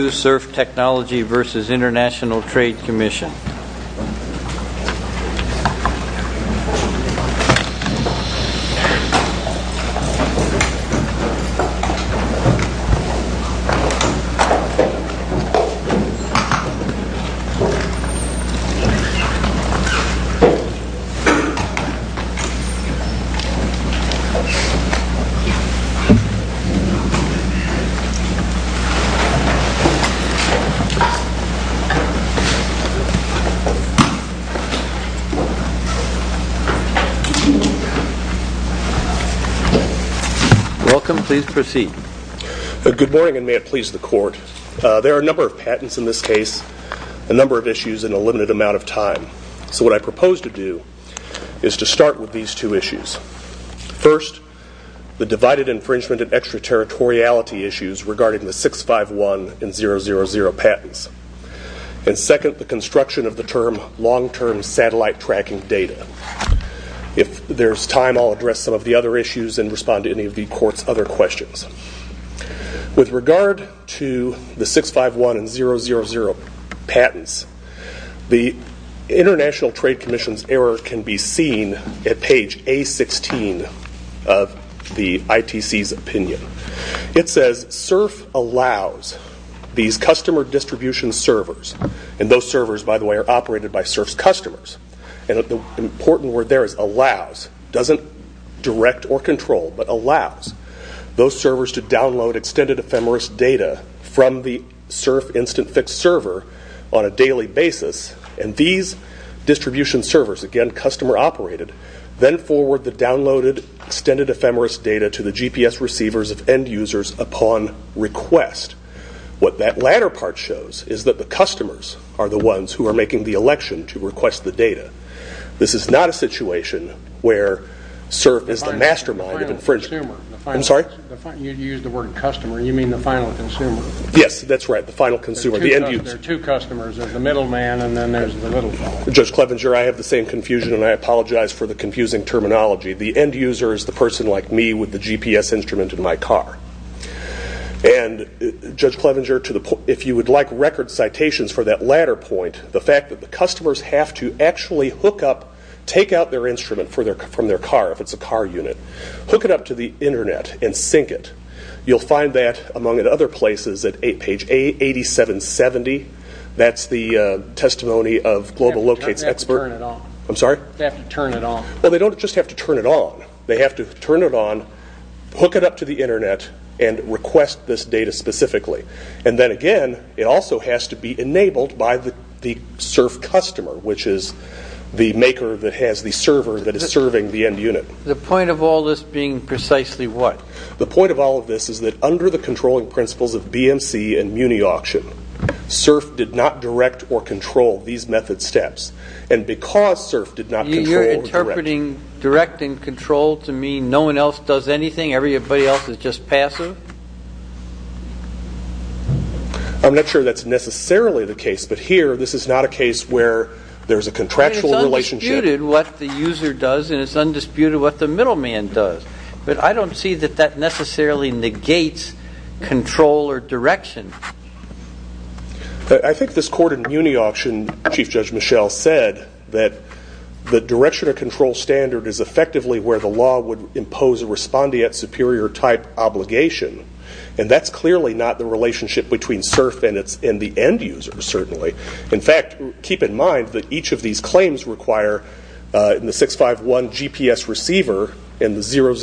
SIRF Technology v. International Trade Commission Welcome. Please proceed. Good morning, and may it please the Court. There are a number of patents in this case, a number of issues, and a limited amount of time. So what I propose to do is to start with these two issues. First, the divided infringement and extraterritoriality issues regarding the 651 and 000 patents. And second, the construction of the term long-term satellite tracking data. If there's time, I'll address some of the other issues and respond to any of the Court's other questions. With regard to the 651 and 000 patents, the International Trade Commission's error can be seen at page A16 of the ITC's opinion. It says, SIRF allows these customer distribution servers, and those servers, by the way, are operated by SIRF's customers. And the important word there is allows. It doesn't direct or control, but allows those servers to download extended ephemeris data from the SIRF Instant Fix server on a daily basis, and these distribution servers, again, customer-operated, then forward the downloaded extended ephemeris data to the GPS receivers of end users upon request. What that latter part shows is that the customers are the ones who are making the election to request the data. This is not a situation where SIRF is the mastermind of infringement. The final consumer. I'm sorry? You used the word customer. You mean the final consumer. Yes, that's right, the final consumer. There are two customers. There's the middleman, and then there's the middleman. Judge Clevenger, I have the same confusion, and I apologize for the confusing terminology. The end user is the person like me with the GPS instrument in my car. And, Judge Clevenger, if you would like record citations for that latter point, the fact that the customers have to actually take out their instrument from their car, if it's a car unit, hook it up to the Internet and sync it. You'll find that, among other places, at page 8770. That's the testimony of Global Locate's expert. They have to turn it on. I'm sorry? They have to turn it on. Well, they don't just have to turn it on. They have to turn it on, hook it up to the Internet, and request this data specifically. And then, again, it also has to be enabled by the SIRF customer, which is the maker that has the server that is serving the end unit. The point of all this being precisely what? The point of all of this is that under the controlling principles of BMC and MuniAuction, SIRF did not direct or control these method steps. And because SIRF did not control or direct. You're interpreting direct and control to mean no one else does anything, everybody else is just passive? I'm not sure that's necessarily the case. But here, this is not a case where there's a contractual relationship. It's undisputed what the user does, and it's undisputed what the middleman does. But I don't see that that necessarily negates control or direction. I think this court in MuniAuction, Chief Judge Michel, said that the direction or control standard is effectively where the law would impose a respondeat superior type obligation. And that's clearly not the relationship between SIRF and the end users, certainly. In fact, keep in mind that each of these claims require the 651 GPS receiver and the 000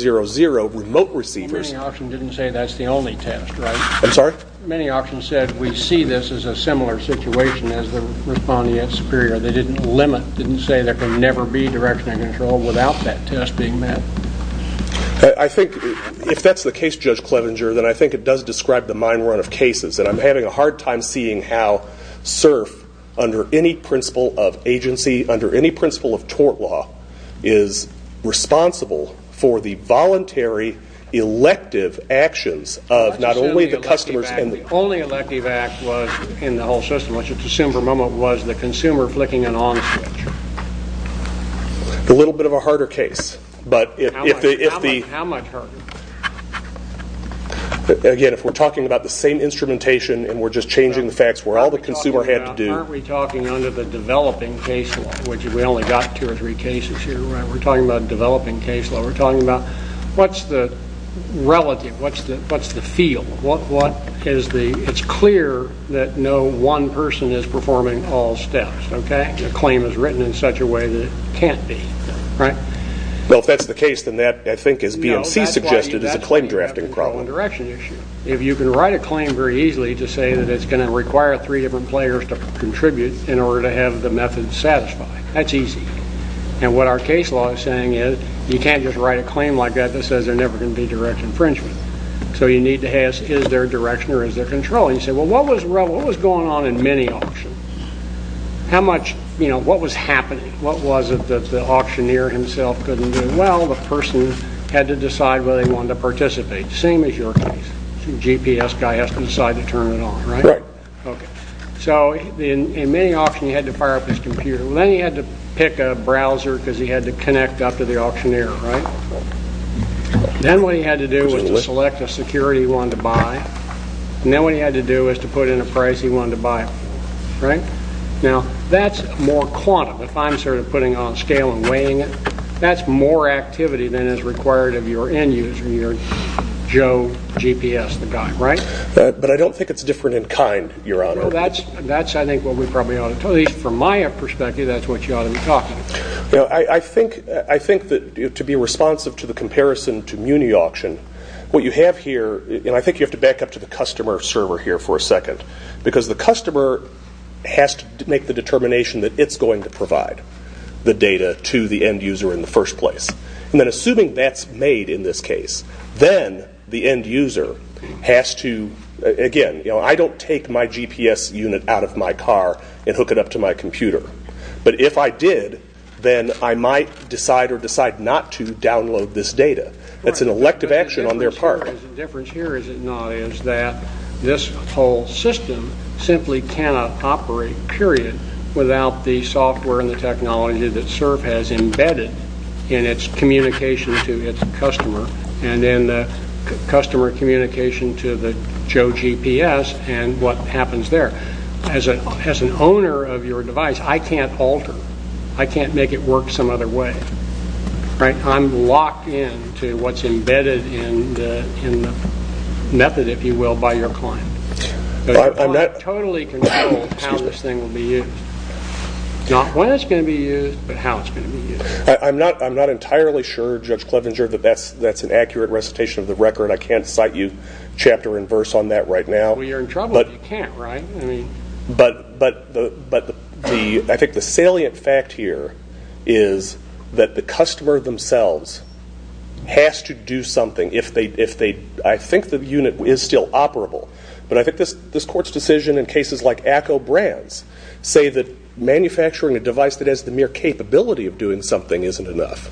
remote receivers. MuniAuction didn't say that's the only test, right? I'm sorry? MuniAuction said we see this as a similar situation as the respondeat superior. They didn't limit, didn't say there can never be direction or control without that test being met. I think if that's the case, Judge Clevenger, then I think it does describe the mine run of cases. And I'm having a hard time seeing how SIRF, under any principle of agency, under any principle of tort law, is responsible for the voluntary elective actions of not only the customers... The only elective act in the whole system, which it's assumed for the moment, was the consumer flicking an on switch. A little bit of a harder case. How much harder? Again, if we're talking about the same instrumentation and we're just changing the facts where all the consumer had to do... Aren't we talking under the developing case law? We only got two or three cases here. We're talking about developing case law. We're talking about what's the relative? What's the feel? It's clear that no one person is performing all steps. The claim is written in such a way that it can't be. Well, if that's the case, then that, I think, as BMC suggested, is a claim drafting problem. No, that's a wrong direction issue. If you can write a claim very easily to say that it's going to require three different players to contribute in order to have the method satisfy, that's easy. What our case law is saying is you can't just write a claim like that that says there's never going to be direct infringement. You need to ask, is there direction or is there control? You say, well, what was going on in many auctions? What was happening? What was it that the auctioneer himself couldn't do? Well, the person had to decide whether they wanted to participate. Same as your case. GPS guy has to decide to turn it on, right? Right. Okay. In many auctions, you had to fire up his computer. Well, then he had to pick a browser because he had to connect up to the auctioneer, right? Then what he had to do was to select a security he wanted to buy, and then what he had to do was to put in a price he wanted to buy it for, right? Now, that's more quantum. If I'm sort of putting it on a scale and weighing it, that's more activity than is required of your end user, your Joe GPS guy, right? But I don't think it's different in kind, Your Honor. That's, I think, what we probably ought to talk about. At least from my perspective, that's what you ought to be talking about. I think that to be responsive to the comparison to Muni Auction, what you have here, and I think you have to back up to the customer server here for a second, because the customer has to make the determination that it's going to provide the data to the end user in the first place. And then assuming that's made in this case, then the end user has to, again, I don't take my GPS unit out of my car and hook it up to my computer. But if I did, then I might decide or decide not to download this data. That's an elective action on their part. The difference here is that this whole system simply cannot operate, period, without the software and the technology that CERF has embedded in its communication to its customer, and then the customer communication to the Joe GPS and what happens there. As an owner of your device, I can't alter. I can't make it work some other way. I'm locked in to what's embedded in the method, if you will, by your client. I totally control how this thing will be used. Not when it's going to be used, but how it's going to be used. I'm not entirely sure, Judge Clevenger, that that's an accurate recitation of the record. I can't cite you chapter and verse on that right now. Well, you're in trouble if you can't, right? But I think the salient fact here is that the customer themselves has to do something. I think the unit is still operable, but I think this Court's decision in cases like ACCO Brands say that manufacturing a device that has the mere capability of doing something isn't enough.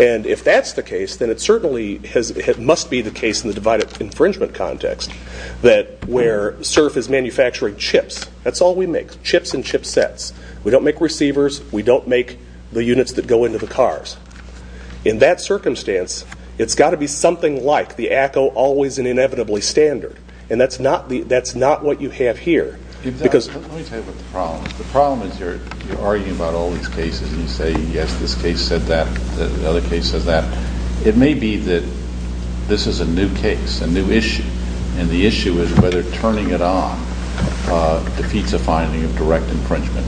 And if that's the case, then it certainly must be the case in the divided infringement context where CERF is manufacturing chips. That's all we make, chips and chipsets. We don't make receivers. We don't make the units that go into the cars. In that circumstance, it's got to be something like the ACCO always and inevitably standard, and that's not what you have here. Let me tell you what the problem is. The problem is you're arguing about all these cases and you say, yes, this case said that, the other case said that. It may be that this is a new case, a new issue, and the issue is whether turning it on defeats a finding of direct infringement,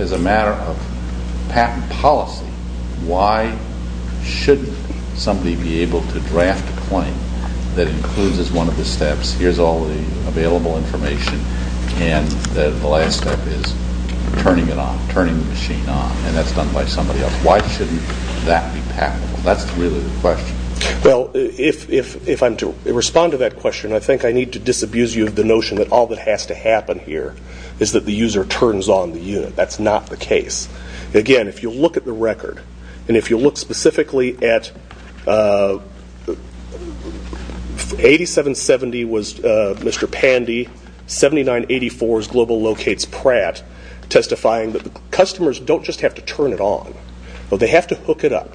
As a matter of patent policy, why shouldn't somebody be able to draft a claim that includes as one of the steps, here's all the available information, and the last step is turning it on, turning the machine on, and that's done by somebody else. Why shouldn't that be patentable? That's really the question. Well, if I'm to respond to that question, I think I need to disabuse you of the notion that all that has to happen here is that the user turns on the unit. That's not the case. Again, if you look at the record, and if you look specifically at 8770 was Mr. Pandy, 7984 is Global Locates Pratt, testifying that the customers don't just have to turn it on, but they have to hook it up,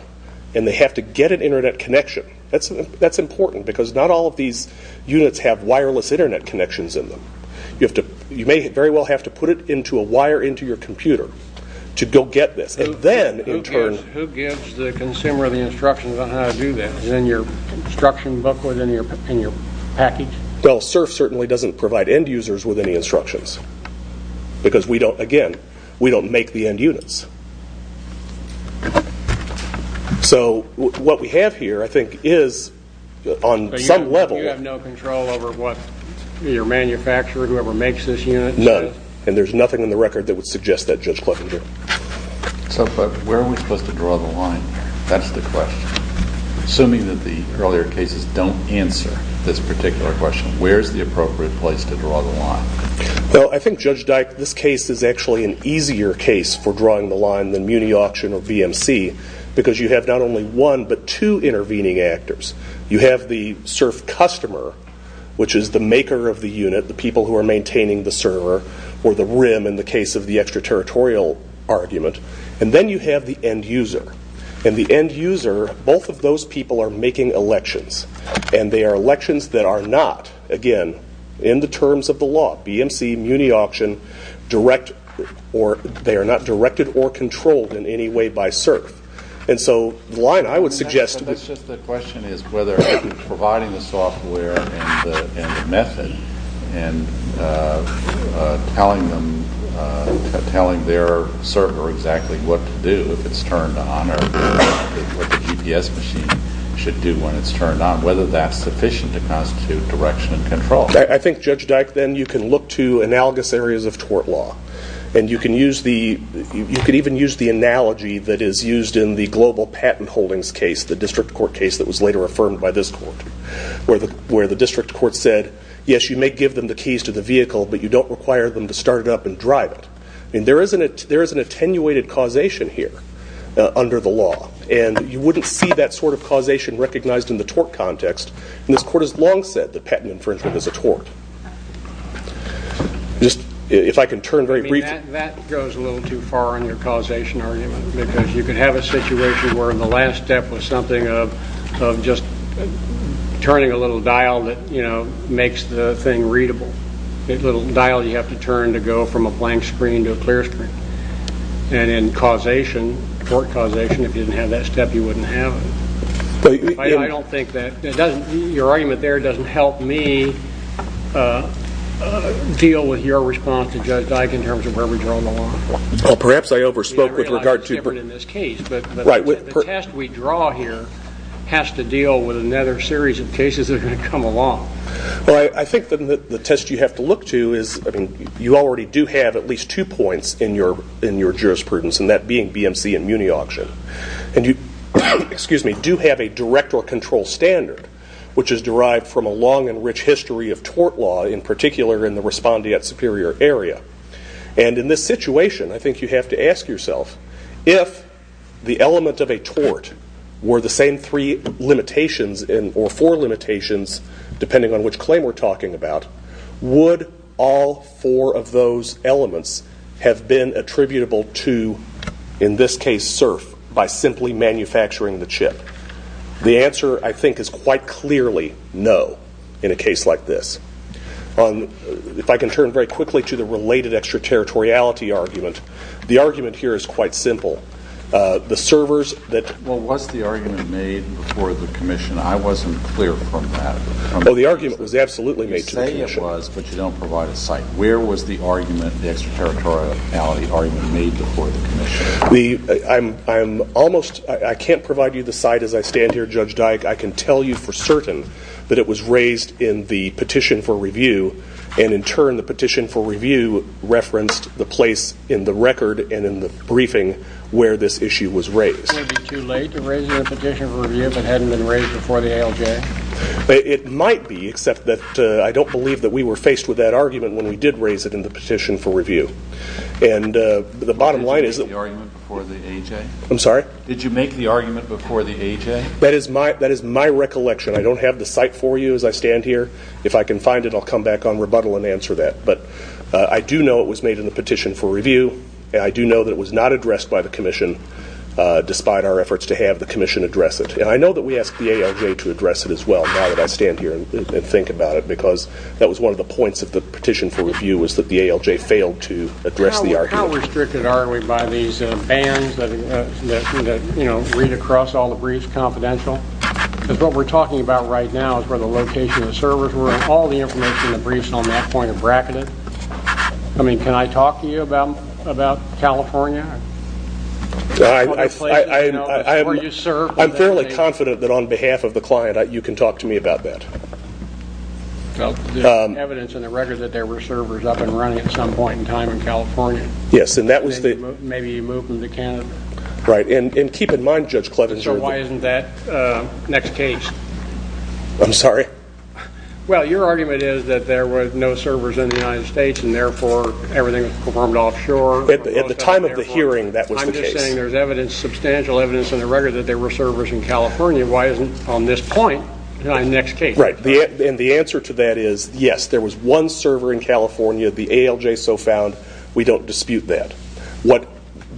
and they have to get an internet connection. That's important because not all of these units have wireless internet connections in them. You may very well have to put it into a wire into your computer to go get this. Who gives the consumer the instructions on how to do that? Is it in your instruction book or in your package? CERF certainly doesn't provide end users with any instructions because, again, we don't make the end units. So what we have here, I think, is on some level. You have no control over what your manufacturer, whoever makes this unit, says? None, and there's nothing in the record that would suggest that, Judge Kloppinger. So where are we supposed to draw the line? That's the question. Assuming that the earlier cases don't answer this particular question, where is the appropriate place to draw the line? I think, Judge Dyke, this case is actually an easier case for drawing the line than Muni Auction or VMC because you have not only one but two intervening actors. You have the CERF customer, which is the maker of the unit, the people who are maintaining the server or the rim in the case of the extraterritorial argument, and then you have the end user. In the end user, both of those people are making elections, and they are elections that are not, again, in the terms of the law, BMC, Muni Auction, they are not directed or controlled in any way by CERF. And so the line I would suggest... That's just the question is whether providing the software and the method and telling their server exactly what to do if it's turned on or what the GPS machine should do when it's turned on, whether that's sufficient to constitute direction and control. I think, Judge Dyke, then you can look to analogous areas of tort law, and you can even use the analogy that is used in the global patent holdings case, the district court case that was later affirmed by this court, where the district court said, yes, you may give them the keys to the vehicle, but you don't require them to start it up and drive it. There is an attenuated causation here under the law, and you wouldn't see that sort of causation recognized in the tort context, and this court has long said that patent infringement is a tort. If I could turn very briefly... That goes a little too far on your causation argument, because you could have a situation where the last step was something of just turning a little dial that makes the thing readable. A little dial you have to turn to go from a blank screen to a clear screen. And in causation, tort causation, if you didn't have that step, you wouldn't have it. I don't think that. Your argument there doesn't help me deal with your response to Judge Dyke in terms of where we draw the line. Perhaps I overspoke with regard to... I realize it's different in this case, but the test we draw here has to deal with another series of cases that are going to come along. I think the test you have to look to is, you already do have at least two points in your jurisprudence, and that being BMC and Muni Auction. And you do have a direct or control standard, which is derived from a long and rich history of tort law, in particular in the Respondeat Superior area. And in this situation, I think you have to ask yourself, if the element of a tort were the same three limitations, or four limitations, depending on which claim we're talking about, would all four of those elements have been attributable to, in this case, Cerf, by simply manufacturing the chip? The answer, I think, is quite clearly no in a case like this. If I can turn very quickly to the related extraterritoriality argument, the argument here is quite simple. The servers that... Well, was the argument made before the commission? I wasn't clear from that. Well, the argument was absolutely made to the commission. You say it was, but you don't provide a site. Where was the argument, the extraterritoriality argument, made before the commission? I can't provide you the site as I stand here, Judge Dyke. I can tell you for certain that it was raised in the petition for review, and in turn the petition for review referenced the place in the record and in the briefing where this issue was raised. Wouldn't it be too late to raise it in the petition for review if it hadn't been raised before the ALJ? It might be, except that I don't believe that we were faced with that argument when we did raise it in the petition for review. Did you make the argument before the AJ? I'm sorry? Did you make the argument before the AJ? That is my recollection. I don't have the site for you as I stand here. If I can find it, I'll come back on rebuttal and answer that. But I do know it was made in the petition for review, and I do know that it was not addressed by the commission, despite our efforts to have the commission address it. And I know that we asked the ALJ to address it as well, now that I stand here and think about it, because that was one of the points of the petition for review, was that the ALJ failed to address the argument. How restricted are we by these bans that read across all the briefs confidential? Because what we're talking about right now is where the location of the servers were, and all the information in the briefs on that point are bracketed. I mean, can I talk to you about California? I'm fairly confident that on behalf of the client, you can talk to me about that. Well, there's evidence in the record that there were servers up and running at some point in time in California. Yes, and that was the... Maybe you moved them to Canada. Right, and keep in mind, Judge Clevens... So why isn't that next case? I'm sorry? Well, your argument is that there were no servers in the United States, and therefore everything was performed offshore. At the time of the hearing, that was the case. I'm just saying there's substantial evidence in the record that there were servers in California. Why isn't it on this point in the next case? Right, and the answer to that is, yes, there was one server in California. The ALJ so found, we don't dispute that.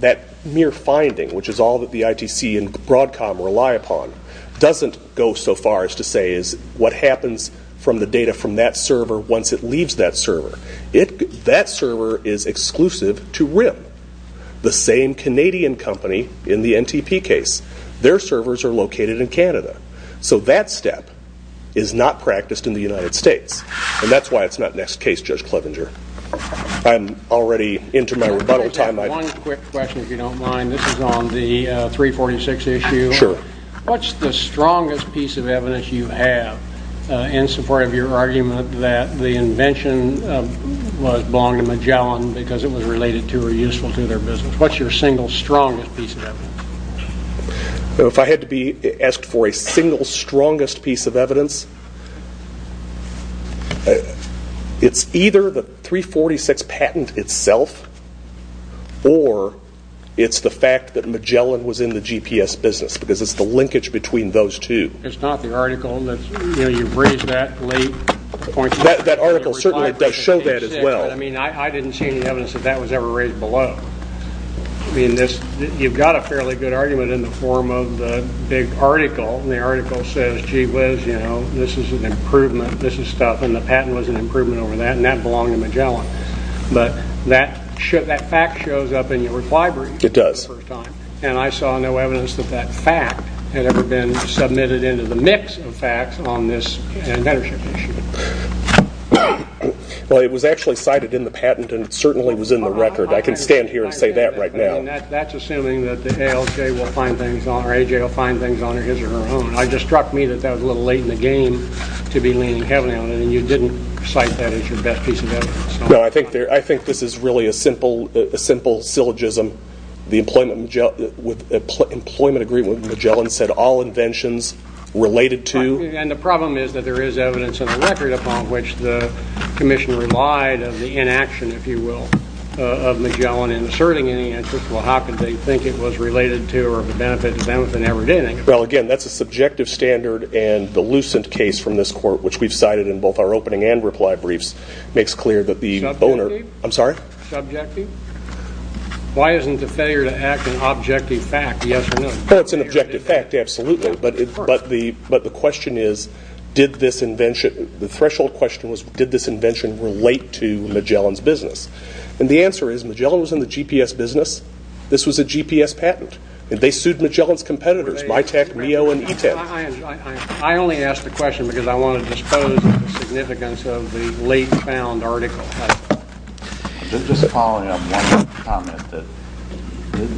That mere finding, which is all that the ITC and Broadcom rely upon, doesn't go so far as to say what happens from the data from that server once it leaves that server. That server is exclusive to RIM, the same Canadian company in the NTP case. Their servers are located in Canada. So that step is not practiced in the United States, and that's why it's not next case, Judge Clevenger. I'm already into my rebuttal time. One quick question, if you don't mind. This is on the 346 issue. Sure. What's the strongest piece of evidence you have in support of your argument that the invention belonged to Magellan because it was related to or useful to their business? What's your single strongest piece of evidence? If I had to be asked for a single strongest piece of evidence, it's either the 346 patent itself or it's the fact that Magellan was in the GPS business because it's the linkage between those two. It's not the article. You've raised that late. That article certainly does show that as well. I didn't see any evidence that that was ever raised below. You've got a fairly good argument in the form of the big article, and the article says, gee whiz, this is stuff, and the patent was an improvement over that, and that belonged to Magellan. But that fact shows up in your reply brief. It does. And I saw no evidence that that fact had ever been submitted into the mix of facts on this inventorship issue. Well, it was actually cited in the patent, and it certainly was in the record. I can stand here and say that right now. That's assuming that the ALJ will find things on it, or AJ will find things on it, his or her own. It just struck me that that was a little late in the game to be leaning heavily on it, and you didn't cite that as your best piece of evidence. No, I think this is really a simple syllogism. The employment agreement with Magellan said all inventions related to... And the problem is that there is evidence in the record upon which the commission relied of the inaction, if you will, of Magellan in asserting any interest. Well, how could they think it was related to or of benefit to them if it never did anything? Well, again, that's a subjective standard, and the Lucent case from this court, which we've cited in both our opening and reply briefs, makes clear that the owner... Subjective? I'm sorry? Subjective. Why isn't the failure to act an objective fact, yes or no? Well, it's an objective fact, absolutely, but the question is, did this invention... The threshold question was, did this invention relate to Magellan's business? And the answer is Magellan was in the GPS business. This was a GPS patent, and they sued Magellan's competitors, MITAC, MEO, and ETAC. I only ask the question because I want to dispose of the significance of the late-found article. Just following up on your comment that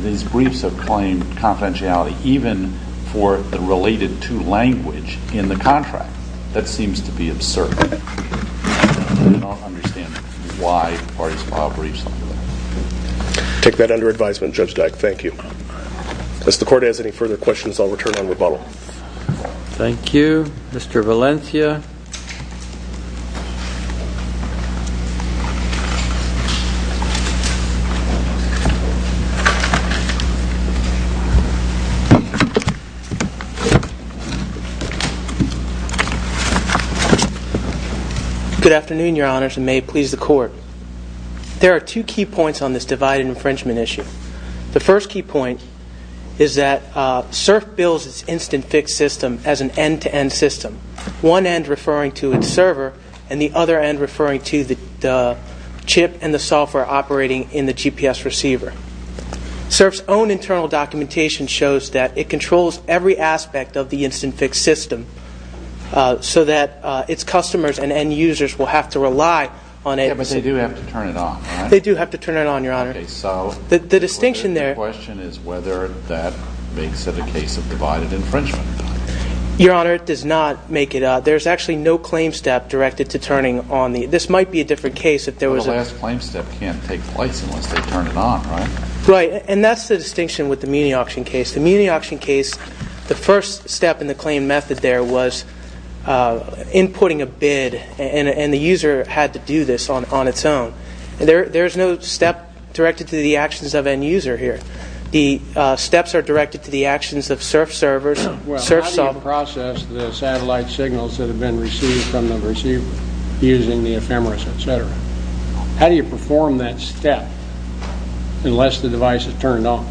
these briefs have claimed confidentiality even for the related to language in the contract, that seems to be absurd. I don't understand why parties file briefs like that. Take that under advisement, Judge Dyck. Thank you. If the court has any further questions, I'll return on rebuttal. Thank you. Mr. Valencia? Good afternoon, Your Honors, and may it please the court. There are two key points on this divided infringement issue. The first key point is that CERF bills its instant-fix system as an end-to-end system, one end referring to its server and the other end referring to the chip and the software operating in the GPS receiver. it can be used as an end-to-end system and it controls every aspect of the instant-fix system so that its customers and end-users will have to rely on it. But they do have to turn it on, right? They do have to turn it on, Your Honor. The question is whether that makes it a case of divided infringement. Your Honor, it does not make it. There's actually no claim step directed to turning on the... The last claim step can't take place unless they turn it on, right? Right, and that's the distinction with the Muni Auction case. The Muni Auction case, the first step in the claim method there was inputting a bid and the user had to do this on its own. There's no step directed to the actions of end-user here. The steps are directed to the actions of CERF servers... Well, how do you process the satellite signals that have been received from the receiver using the ephemeris, etc.? How do you perform that step unless the device is turned on?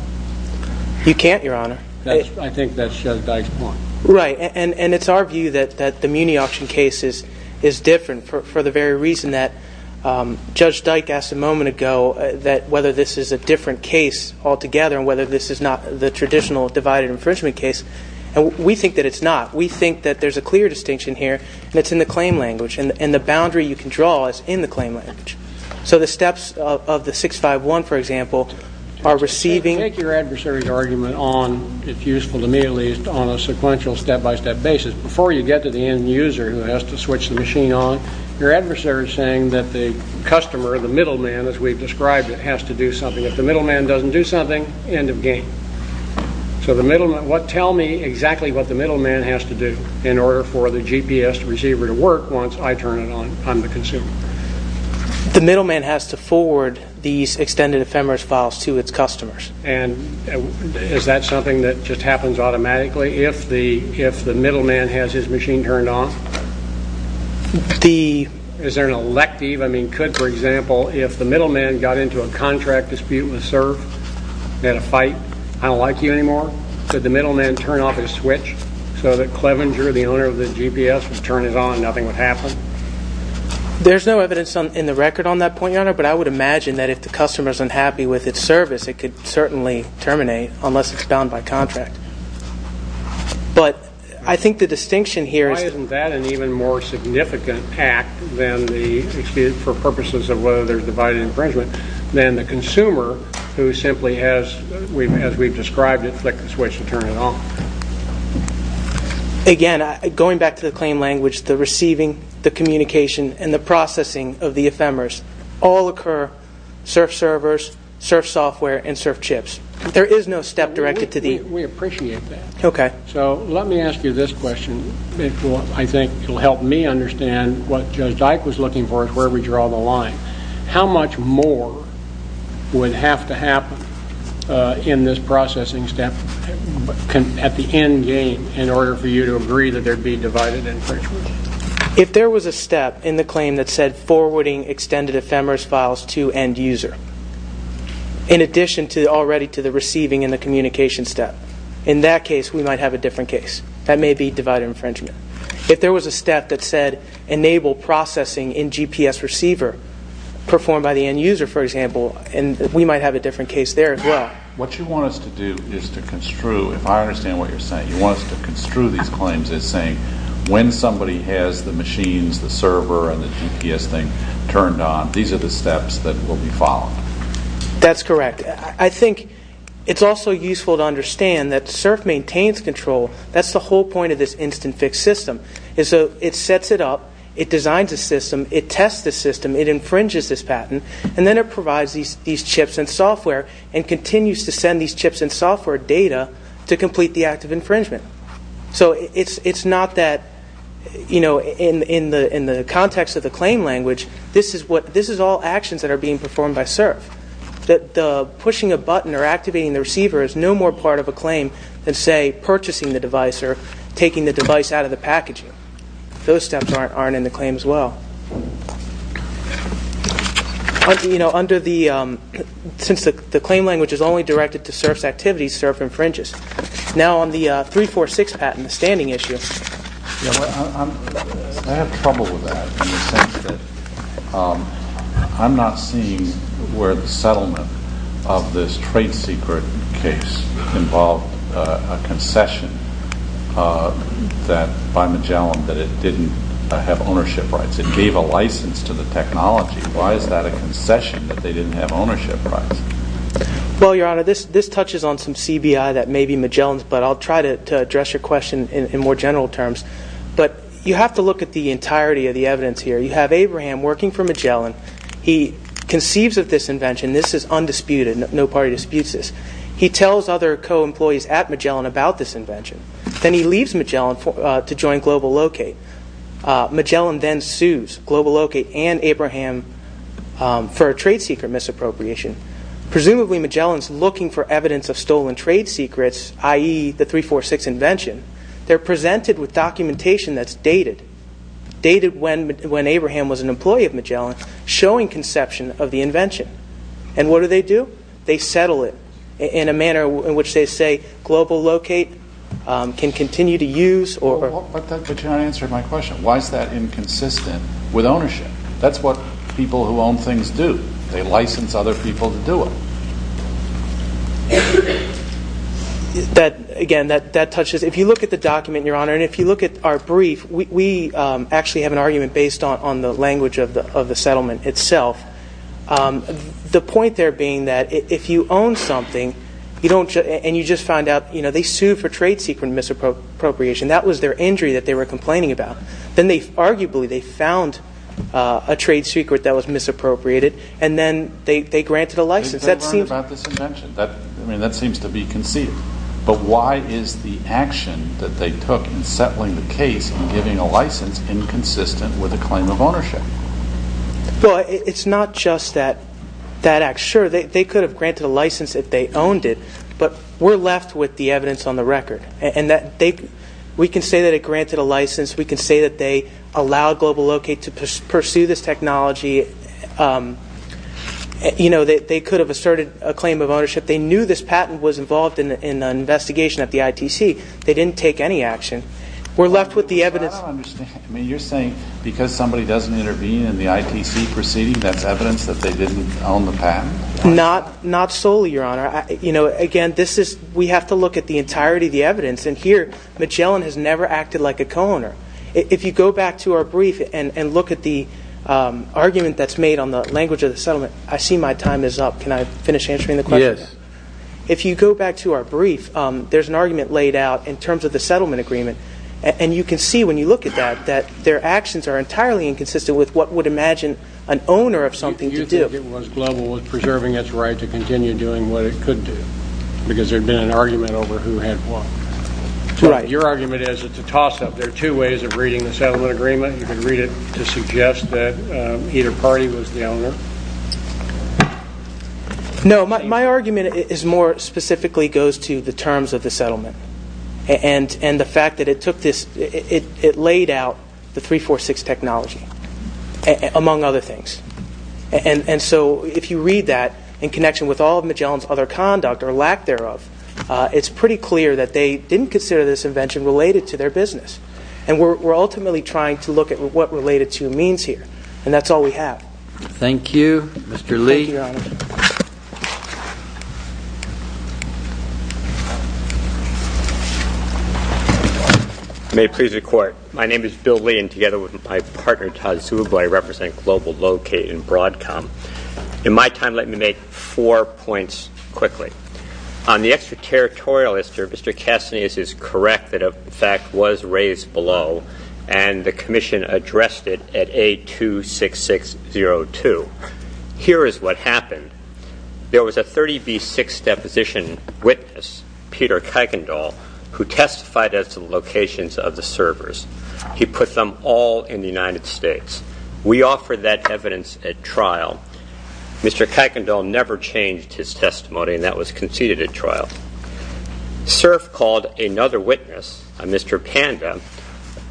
You can't, Your Honor. I think that's Judge Dyke's point. Right, and it's our view that the Muni Auction case is different for the very reason that Judge Dyke asked a moment ago that whether this is a different case altogether and whether this is not the traditional divided infringement case. And we think that it's not. We think that there's a clear distinction here and it's in the claim language and the boundary you can draw is in the claim language. So the steps of the 651, for example, are receiving... Take your adversary's argument on, if useful to me at least, on a sequential step-by-step basis. Before you get to the end-user who has to switch the machine on, your adversary is saying that the customer, the middleman, as we've described it, has to do something. If the middleman doesn't do something, end of game. So tell me exactly what the middleman has to do in order for the GPS receiver to work once I turn it on, I'm the consumer. The middleman has to forward these extended ephemeris files to its customers. And is that something that just happens automatically if the middleman has his machine turned on? Is there an elective? Could, for example, if the middleman got into a contract dispute and was served and had a fight, I don't like you anymore, could the middleman turn off his switch so that Clevenger, the owner of the GPS, would turn it on and nothing would happen? There's no evidence in the record on that point, Your Honor, but I would imagine that if the customer's unhappy with its service, it could certainly terminate unless it's bound by contract. But I think the distinction here is... for purposes of whether there's divided infringement, then the consumer, who simply has, as we've described it, flicked the switch and turned it off. Again, going back to the claim language, the receiving, the communication, and the processing of the ephemeris all occur, surf servers, surf software, and surf chips. There is no step directed to the... We appreciate that. So let me ask you this question. I think it will help me understand what Judge Dyke was looking for is where we draw the line. How much more would have to happen in this processing step at the end game in order for you to agree that there'd be divided infringement? If there was a step in the claim that said forwarding extended ephemeris files to end user, in addition already to the receiving and the communication step, in that case we might have a different case. That may be divided infringement. If there was a step that said enable processing in GPS receiver performed by the end user, for example, we might have a different case there as well. What you want us to do is to construe, if I understand what you're saying, you want us to construe these claims as saying when somebody has the machines, the server, and the GPS thing turned on, these are the steps that will be followed. That's correct. I think it's also useful to understand that CERF maintains control. That's the whole point of this instant fix system. It sets it up, it designs a system, it tests the system, it infringes this patent, and then it provides these chips and software and continues to send these chips and software data to complete the act of infringement. It's not that in the context of the claim language, this is all actions that are being performed by CERF. The pushing a button or activating the receiver is no more part of a claim than, say, purchasing the device or taking the device out of the packaging. Those steps aren't in the claim as well. Since the claim language is only directed to CERF's activities, CERF infringes. Now on the 346 patent, the standing issue... I have trouble with that in the sense that I'm not seeing where the settlement of this trade secret case involved a concession by Magellan that it didn't have ownership rights. It gave a license to the technology. Why is that a concession that they didn't have ownership rights? Well, Your Honor, this touches on some CBI that may be Magellan's, but I'll try to address your question in more general terms. But you have to look at the entirety of the evidence here. You have Abraham working for Magellan. He conceives of this invention. This is undisputed. No party disputes this. He tells other co-employees at Magellan about this invention. Then he leaves Magellan to join Global Locate. Magellan then sues Global Locate and Abraham for a trade secret misappropriation. Presumably Magellan's looking for evidence of stolen trade secrets, i.e., the 346 invention. They're presented with documentation that's dated. Dated when Abraham was an employee of Magellan showing conception of the invention. And what do they do? They settle it in a manner in which they say Global Locate can continue to use. But Your Honor, that answered my question. Why is that inconsistent with ownership? That's what people who own things do. They license other people to do it. Again, that touches... If you look at the document, Your Honor, and if you look at our brief, we actually have an argument based on the language of the settlement itself. The point there being that if you own something and you just find out they sued for trade secret misappropriation, that was their injury that they were complaining about. Then arguably they found a trade secret that was misappropriated and then they granted a license. They learned about this invention. That seems to be conceived. But why is the action that they took in settling the case and giving a license inconsistent with a claim of ownership? It's not just that act. Sure, they could have granted a license if they owned it, but we're left with the evidence on the record. We can say that it granted a license. We can say that they allowed Global Locate to pursue this technology. They could have asserted a claim of ownership. They knew this patent was involved in an investigation at the ITC. They didn't take any action. You're saying because somebody doesn't intervene in the ITC proceeding, that's evidence that they didn't own the patent? Not solely, Your Honor. Again, we have to look at the entirety of the evidence. Here, Magellan has never acted like a co-owner. If you go back to our brief and look at the argument that's made on the language of the settlement, I see my time is up. Can I finish answering the question? If you go back to our brief, there's an argument laid out in terms of the settlement agreement. You can see when you look at that that their actions are entirely inconsistent with what would imagine an owner of something to do. You think it was Global was preserving its right to continue doing what it could do Your argument is it's a toss-up. There are two ways of reading the settlement agreement. You can read it to suggest that either party was the owner. No, my argument more specifically goes to the terms of the settlement. And the fact that it took this it laid out the 346 technology among other things. If you read that in connection with all of Magellan's other conduct or lack thereof, it's pretty clear that they didn't consider this invention related to their business. And we're ultimately trying to look at what related to means here. And that's all we have. Thank you, Mr. Lee. May it please the Court, my name is Bill Lee and together with my partner Todd Zubel, I represent Global Locate and Broadcom. In my time, let me make four points quickly. On the extra-territorial issue, Mr. Castaneda is correct that a fact was raised below and the Commission addressed it at A26602. Here is what happened. There was a 30B6 deposition witness, Peter Kuykendall, who testified at the locations of the servers. We offered that evidence at trial. Mr. Kuykendall never changed his testimony and that was conceded at trial. Cerf called another witness, Mr. Panda,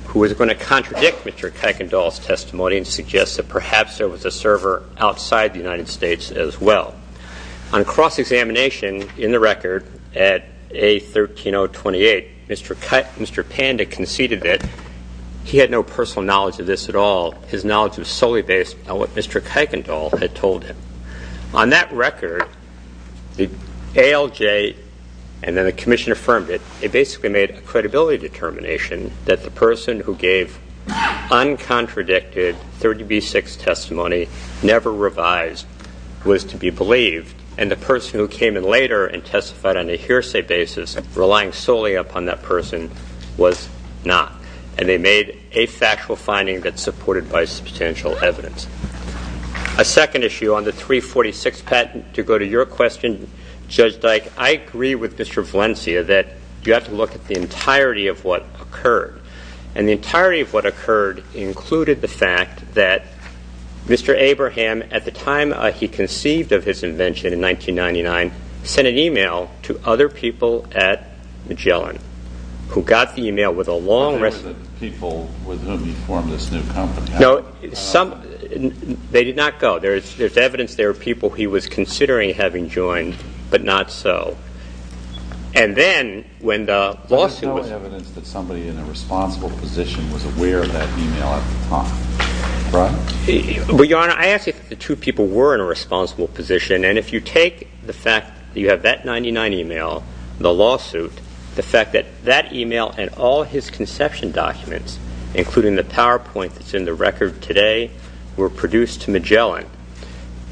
who was going to contradict Mr. Kuykendall's testimony and suggest that perhaps there was a server outside the United States as well. On cross-examination in the record at A13028, Mr. Panda conceded that he had no personal knowledge of this at all. His knowledge was solely based on what Mr. Kuykendall had told him. On that record, ALJ and then the Commission affirmed it. They basically made a credibility determination that the person who gave uncontradicted 30B6 testimony, never revised, was to be believed and the person who came in later and testified on a hearsay basis relying solely upon that person was not. And they made a factual finding that's supported by substantial evidence. A second issue on the 346 patent, to go to your question, Judge Dyke, I agree with Mr. Valencia that you have to look at the entirety of what occurred. And the entirety of what occurred included the fact that Mr. Abraham, at the time he conceived of his invention in 1999, sent an email to other people at Magellan who got the email with a long... People with whom he formed this new company. They did not go. There's evidence there were people he was considering having joined, but not so. And then when the lawsuit was... There's no evidence that somebody in a responsible position was aware of that email at the time, right? Well, Your Honor, I ask you if the two people were in a responsible position. And if you take the fact that you have that 1999 email, the lawsuit, the fact that that email and all his conception documents, including the PowerPoint that's in the record today, were produced to Magellan,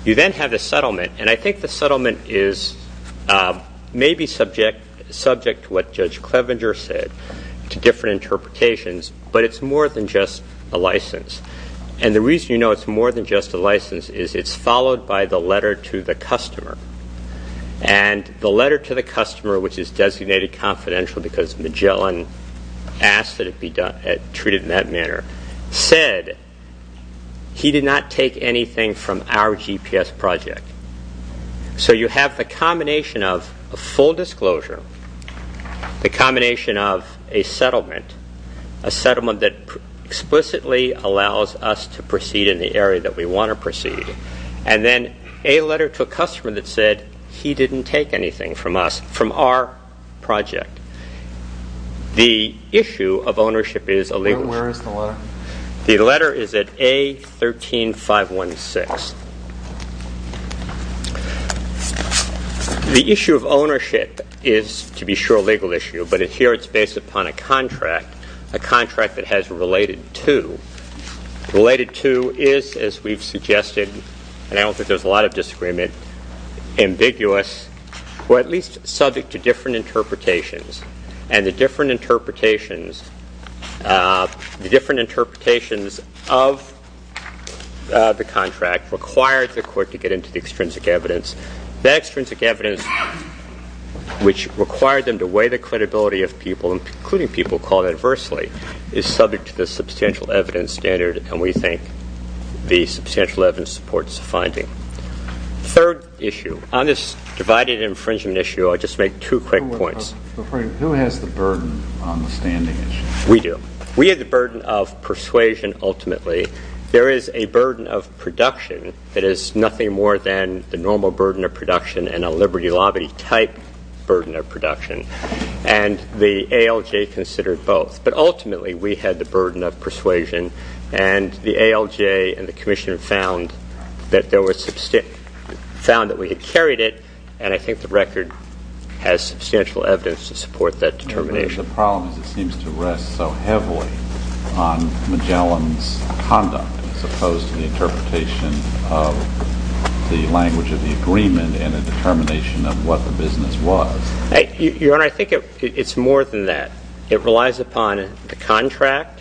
you then have the settlement. And I think the settlement is maybe subject to what Judge Clevenger said, to different interpretations, but it's more than just a license. And the reason you know it's more than just a license is it's followed by the letter to the customer. And the letter to the customer, which is designated confidential because Magellan asked that it be treated in that manner, said he did not take anything from our GPS project. So you have the combination of a full disclosure, the combination of a settlement, a settlement that explicitly allows us to proceed in the area that we want to proceed, and then a letter to a customer that said he didn't take anything from us, from our project. The issue of ownership is a legal issue. Where is the letter? The letter is at A13516. The issue of ownership is, to be sure, a legal issue, but here it's based upon a contract, a contract that has related to. Related to is, as we've suggested, and I don't think there's a lot of disagreement, ambiguous, or at least subject to different interpretations. And the different interpretations of the contract required the court to get into the extrinsic evidence. That extrinsic evidence, which required them to weigh the credibility of people, including people called adversely, is subject to the substantial evidence standard, and we think the substantial evidence supports the finding. Third issue, on this divided infringement issue, I'll just make two quick points. Who has the burden on the standing issue? We do. We have the burden of persuasion ultimately. There is a burden of production that is nothing more than the normal burden of production and a liberty-lobby type burden of production. And the ALJ considered both. But ultimately we had the burden of persuasion and the ALJ and the Commission found that we had carried it and I think the record has substantial evidence to support that determination. But the problem is it seems to rest so heavily on Magellan's conduct as opposed to the interpretation of the language of the agreement and the determination of what the business was. Your Honor, I think it's more than that. It relies upon the contract.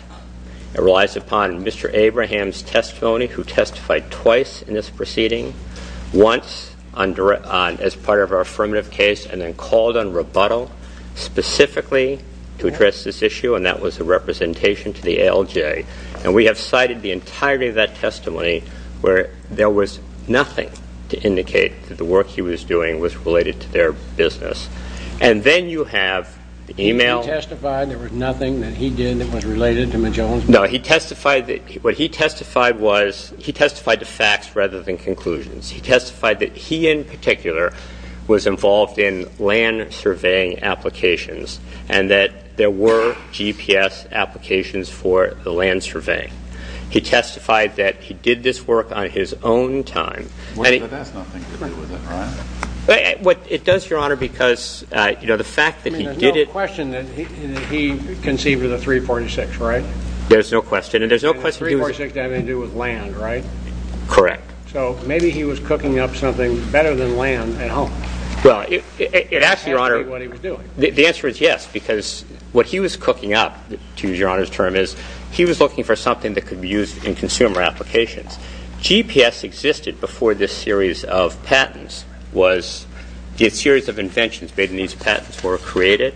It relies upon Mr. Abraham's testimony, who testified twice in this proceeding, once as part of our affirmative case and then called on rebuttal specifically to address this issue, and that was a representation to the ALJ. And we have cited the entirety of that testimony where there was nothing to indicate that the work he was doing was related to their business. And then you have the email. He testified there was nothing that he did that was related to Magellan's? No, he testified that he testified to facts rather than conclusions. He testified that he in particular was involved in land surveying applications and that there were GPS applications for the land surveying. He testified that he did this work on his own time. But that's nothing to do with it, right? It does, Your Honor, because the fact that he did it I mean, there's no question that he conceived of the 346, right? There's no question. And there's no question 346 had anything to do with land, right? Correct. So maybe he was cooking up something better than land at home. It has to be what he was doing. The answer is yes, because what he was cooking up, to use Your Honor's term, is he was looking for something that could be used in consumer applications. GPS existed before this series of patents was, the series of inventions made in these patents were created.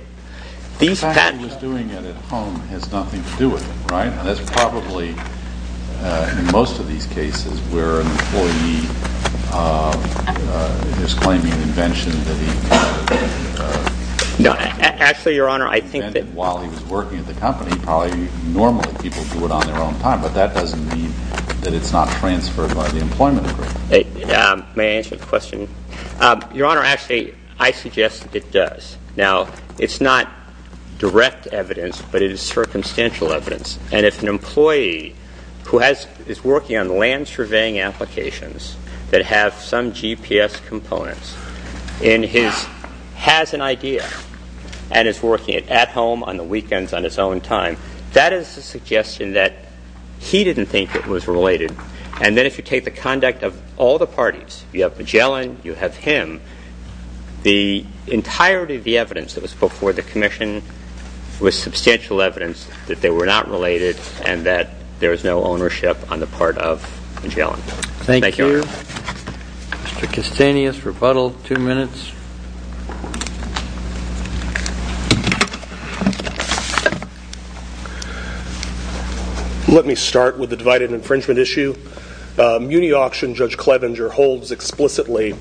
The fact that he was doing it at home has nothing to do with it, right? That's probably, in most of these cases, where an employee is claiming an invention that he invented while he was working at the company, probably normally people do it on their own time. But that doesn't mean that it's not transferred by the employment agreement. May I answer the question? Your Honor, actually, I suggest that it does. Now, it's not direct evidence, but it is circumstantial evidence. And if an employee who is working on land surveying applications that have some GPS components and has an idea and is working it at home on the weekends on his own time, that is a suggestion that he didn't think it was related. And then if you take the conduct of all the parties, you have Magellan, you have him, the entirety of the evidence that was before the commission was substantial evidence that they were not related and that there was no ownership on the part of Magellan. Thank you, Your Honor. Mr. Castanis, rebuttal, two minutes. Let me start with the divided infringement issue. Muni Auction Judge Clevenger holds explicitly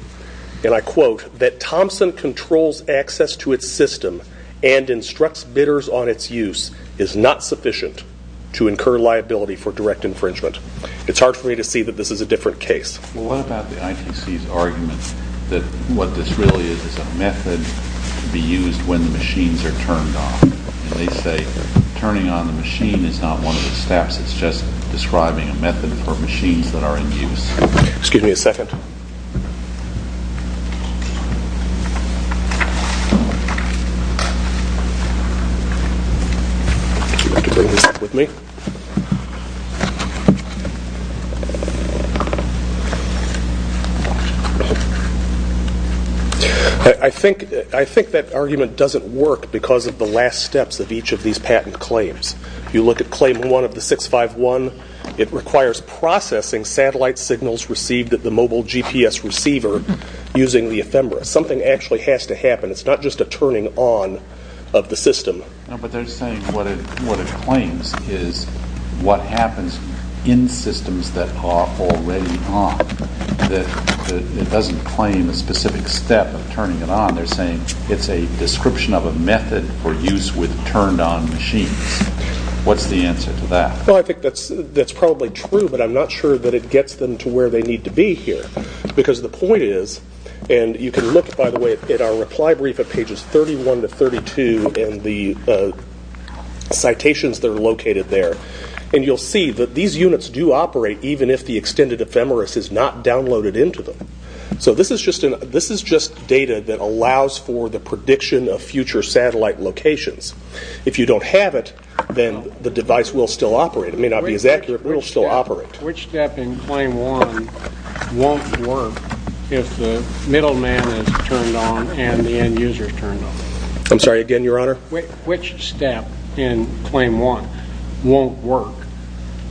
and I quote, that Thompson controls access to its system and instructs bidders on its use is not sufficient to incur liability for direct infringement. It's hard for me to see that this is a different case. Well, what about the ITC's argument that what this really is is a method to be used when the machines are turned off. And they say turning on the machine is not one of the steps, it's just describing a method for machines that are in use. Excuse me a second. Would you like to bring this up with me? I think that argument doesn't work because of the last steps of each of these patent claims. You look at claim one of the 651, it requires processing satellite signals received at the mobile GPS receiver using the ephemera. Something actually has to happen. It's not just a turning on of the system. No, but they're saying what it claims is what happens in systems that are already on. It doesn't claim a specific step of turning it on, they're saying it's a description of a method for use with turned on machines. What's the answer to that? Well, I think that's probably true, but I'm not sure that it gets them to where they need to be here. Because the point is, and you can look by the way at our reply brief at pages 31 to 32 and the citations that are located there and you'll see that these units do operate even if the extended ephemeris is not downloaded into them. So this is just data that allows for the prediction of future satellite locations. If you don't have it, then the device will still operate. It may not be as accurate, but it will still operate. Which step in claim one won't work if the middle man is turned on and the end user is turned on? I'm sorry, again, Your Honor? Which step in claim one won't work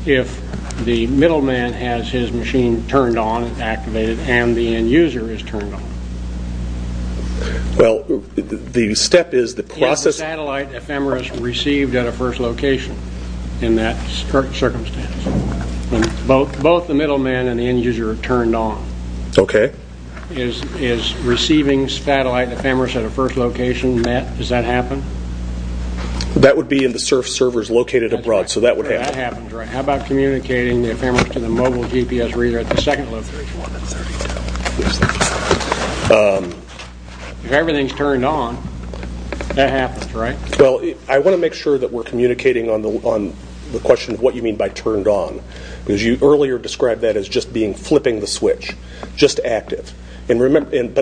if the middle man has his machine turned on and activated and the end user is turned on? Well, the step is the process... If the satellite ephemeris received at a first location in that circumstance. Both the middle man and the end user are turned on. Okay. Is receiving satellite ephemeris at a first location met? Does that happen? That would be in the surf servers located abroad, so that would happen. That happens, right. How about communicating the ephemeris to the mobile GPS reader at the second location? If everything is turned on, that happens, right? Well, I want to make sure that we're communicating on the question of what you mean by turned on because you earlier described that as just being flipping the switch. Just active. But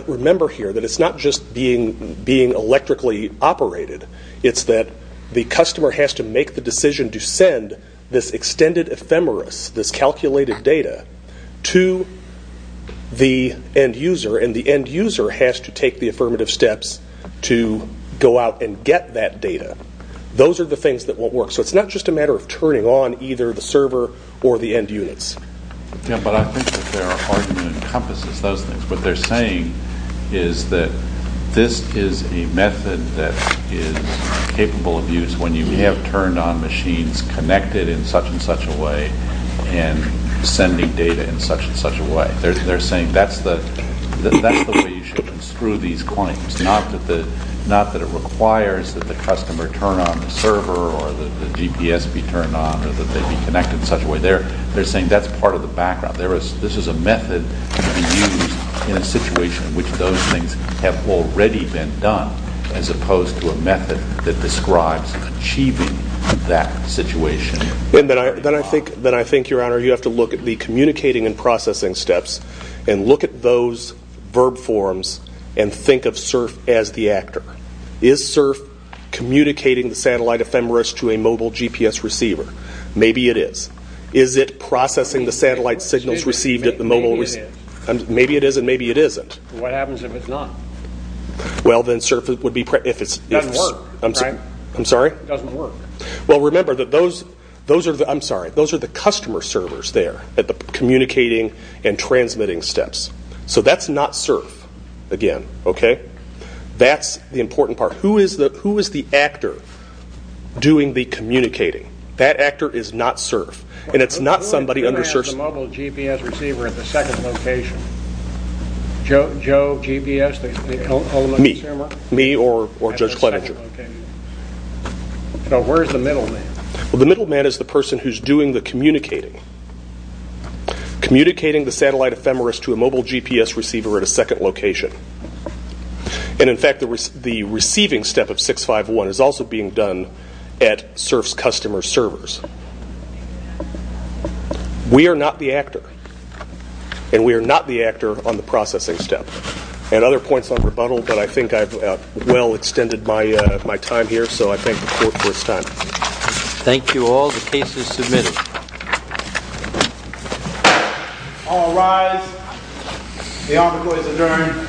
remember here that it's not just being electrically operated. It's that the customer has to make the decision to send this extended ephemeris, this calculated data, to the end user and the end user has to take the affirmative steps to go out and get that data. Those are the things that won't work. So it's not just a matter of turning on either the server or the end units. Yeah, but I think that their argument encompasses those things. What they're saying is that this is a method that is capable of use when you have turned on machines connected in such and such a way and sending data in such and such a way. They're saying that's the way you should construe these claims, not that it requires that the customer turn on the server or that the GPS be turned on or that they be connected in such a way. They're saying that's part of the background. This is a method to be used in a situation in which those things have already been done as opposed to a method that describes achieving that situation. Then I think, Your Honor, you have to look at the communicating and processing steps and look at those verb forms and think of CERF as the actor. Is CERF communicating the satellite ephemeris to a mobile GPS receiver? Maybe it is. Is it processing the satellite signals received at the mobile receiver? Maybe it is and maybe it isn't. What happens if it's not? It doesn't work, right? It doesn't work. Remember, those are the customer servers there at the communicating and transmitting steps. That's not CERF, again. That's the important part. Who is the actor doing the communicating? That actor is not CERF. Who is the mobile GPS receiver at the second location? Joe, GPS? Me or Judge Kledinger. Where is the middle man? The middle man is the person who is doing the communicating. Communicating the satellite ephemeris to a mobile GPS receiver at a second location. In fact, the receiving step of 651 is also being done at CERF's customer servers. We are not the actor and we are not the actor on the processing step. Other points on rebuttal, but I think I've well extended my time here, so I thank the Court for its time. Thank you all. The case is submitted. All rise. The Honorable is adjourned.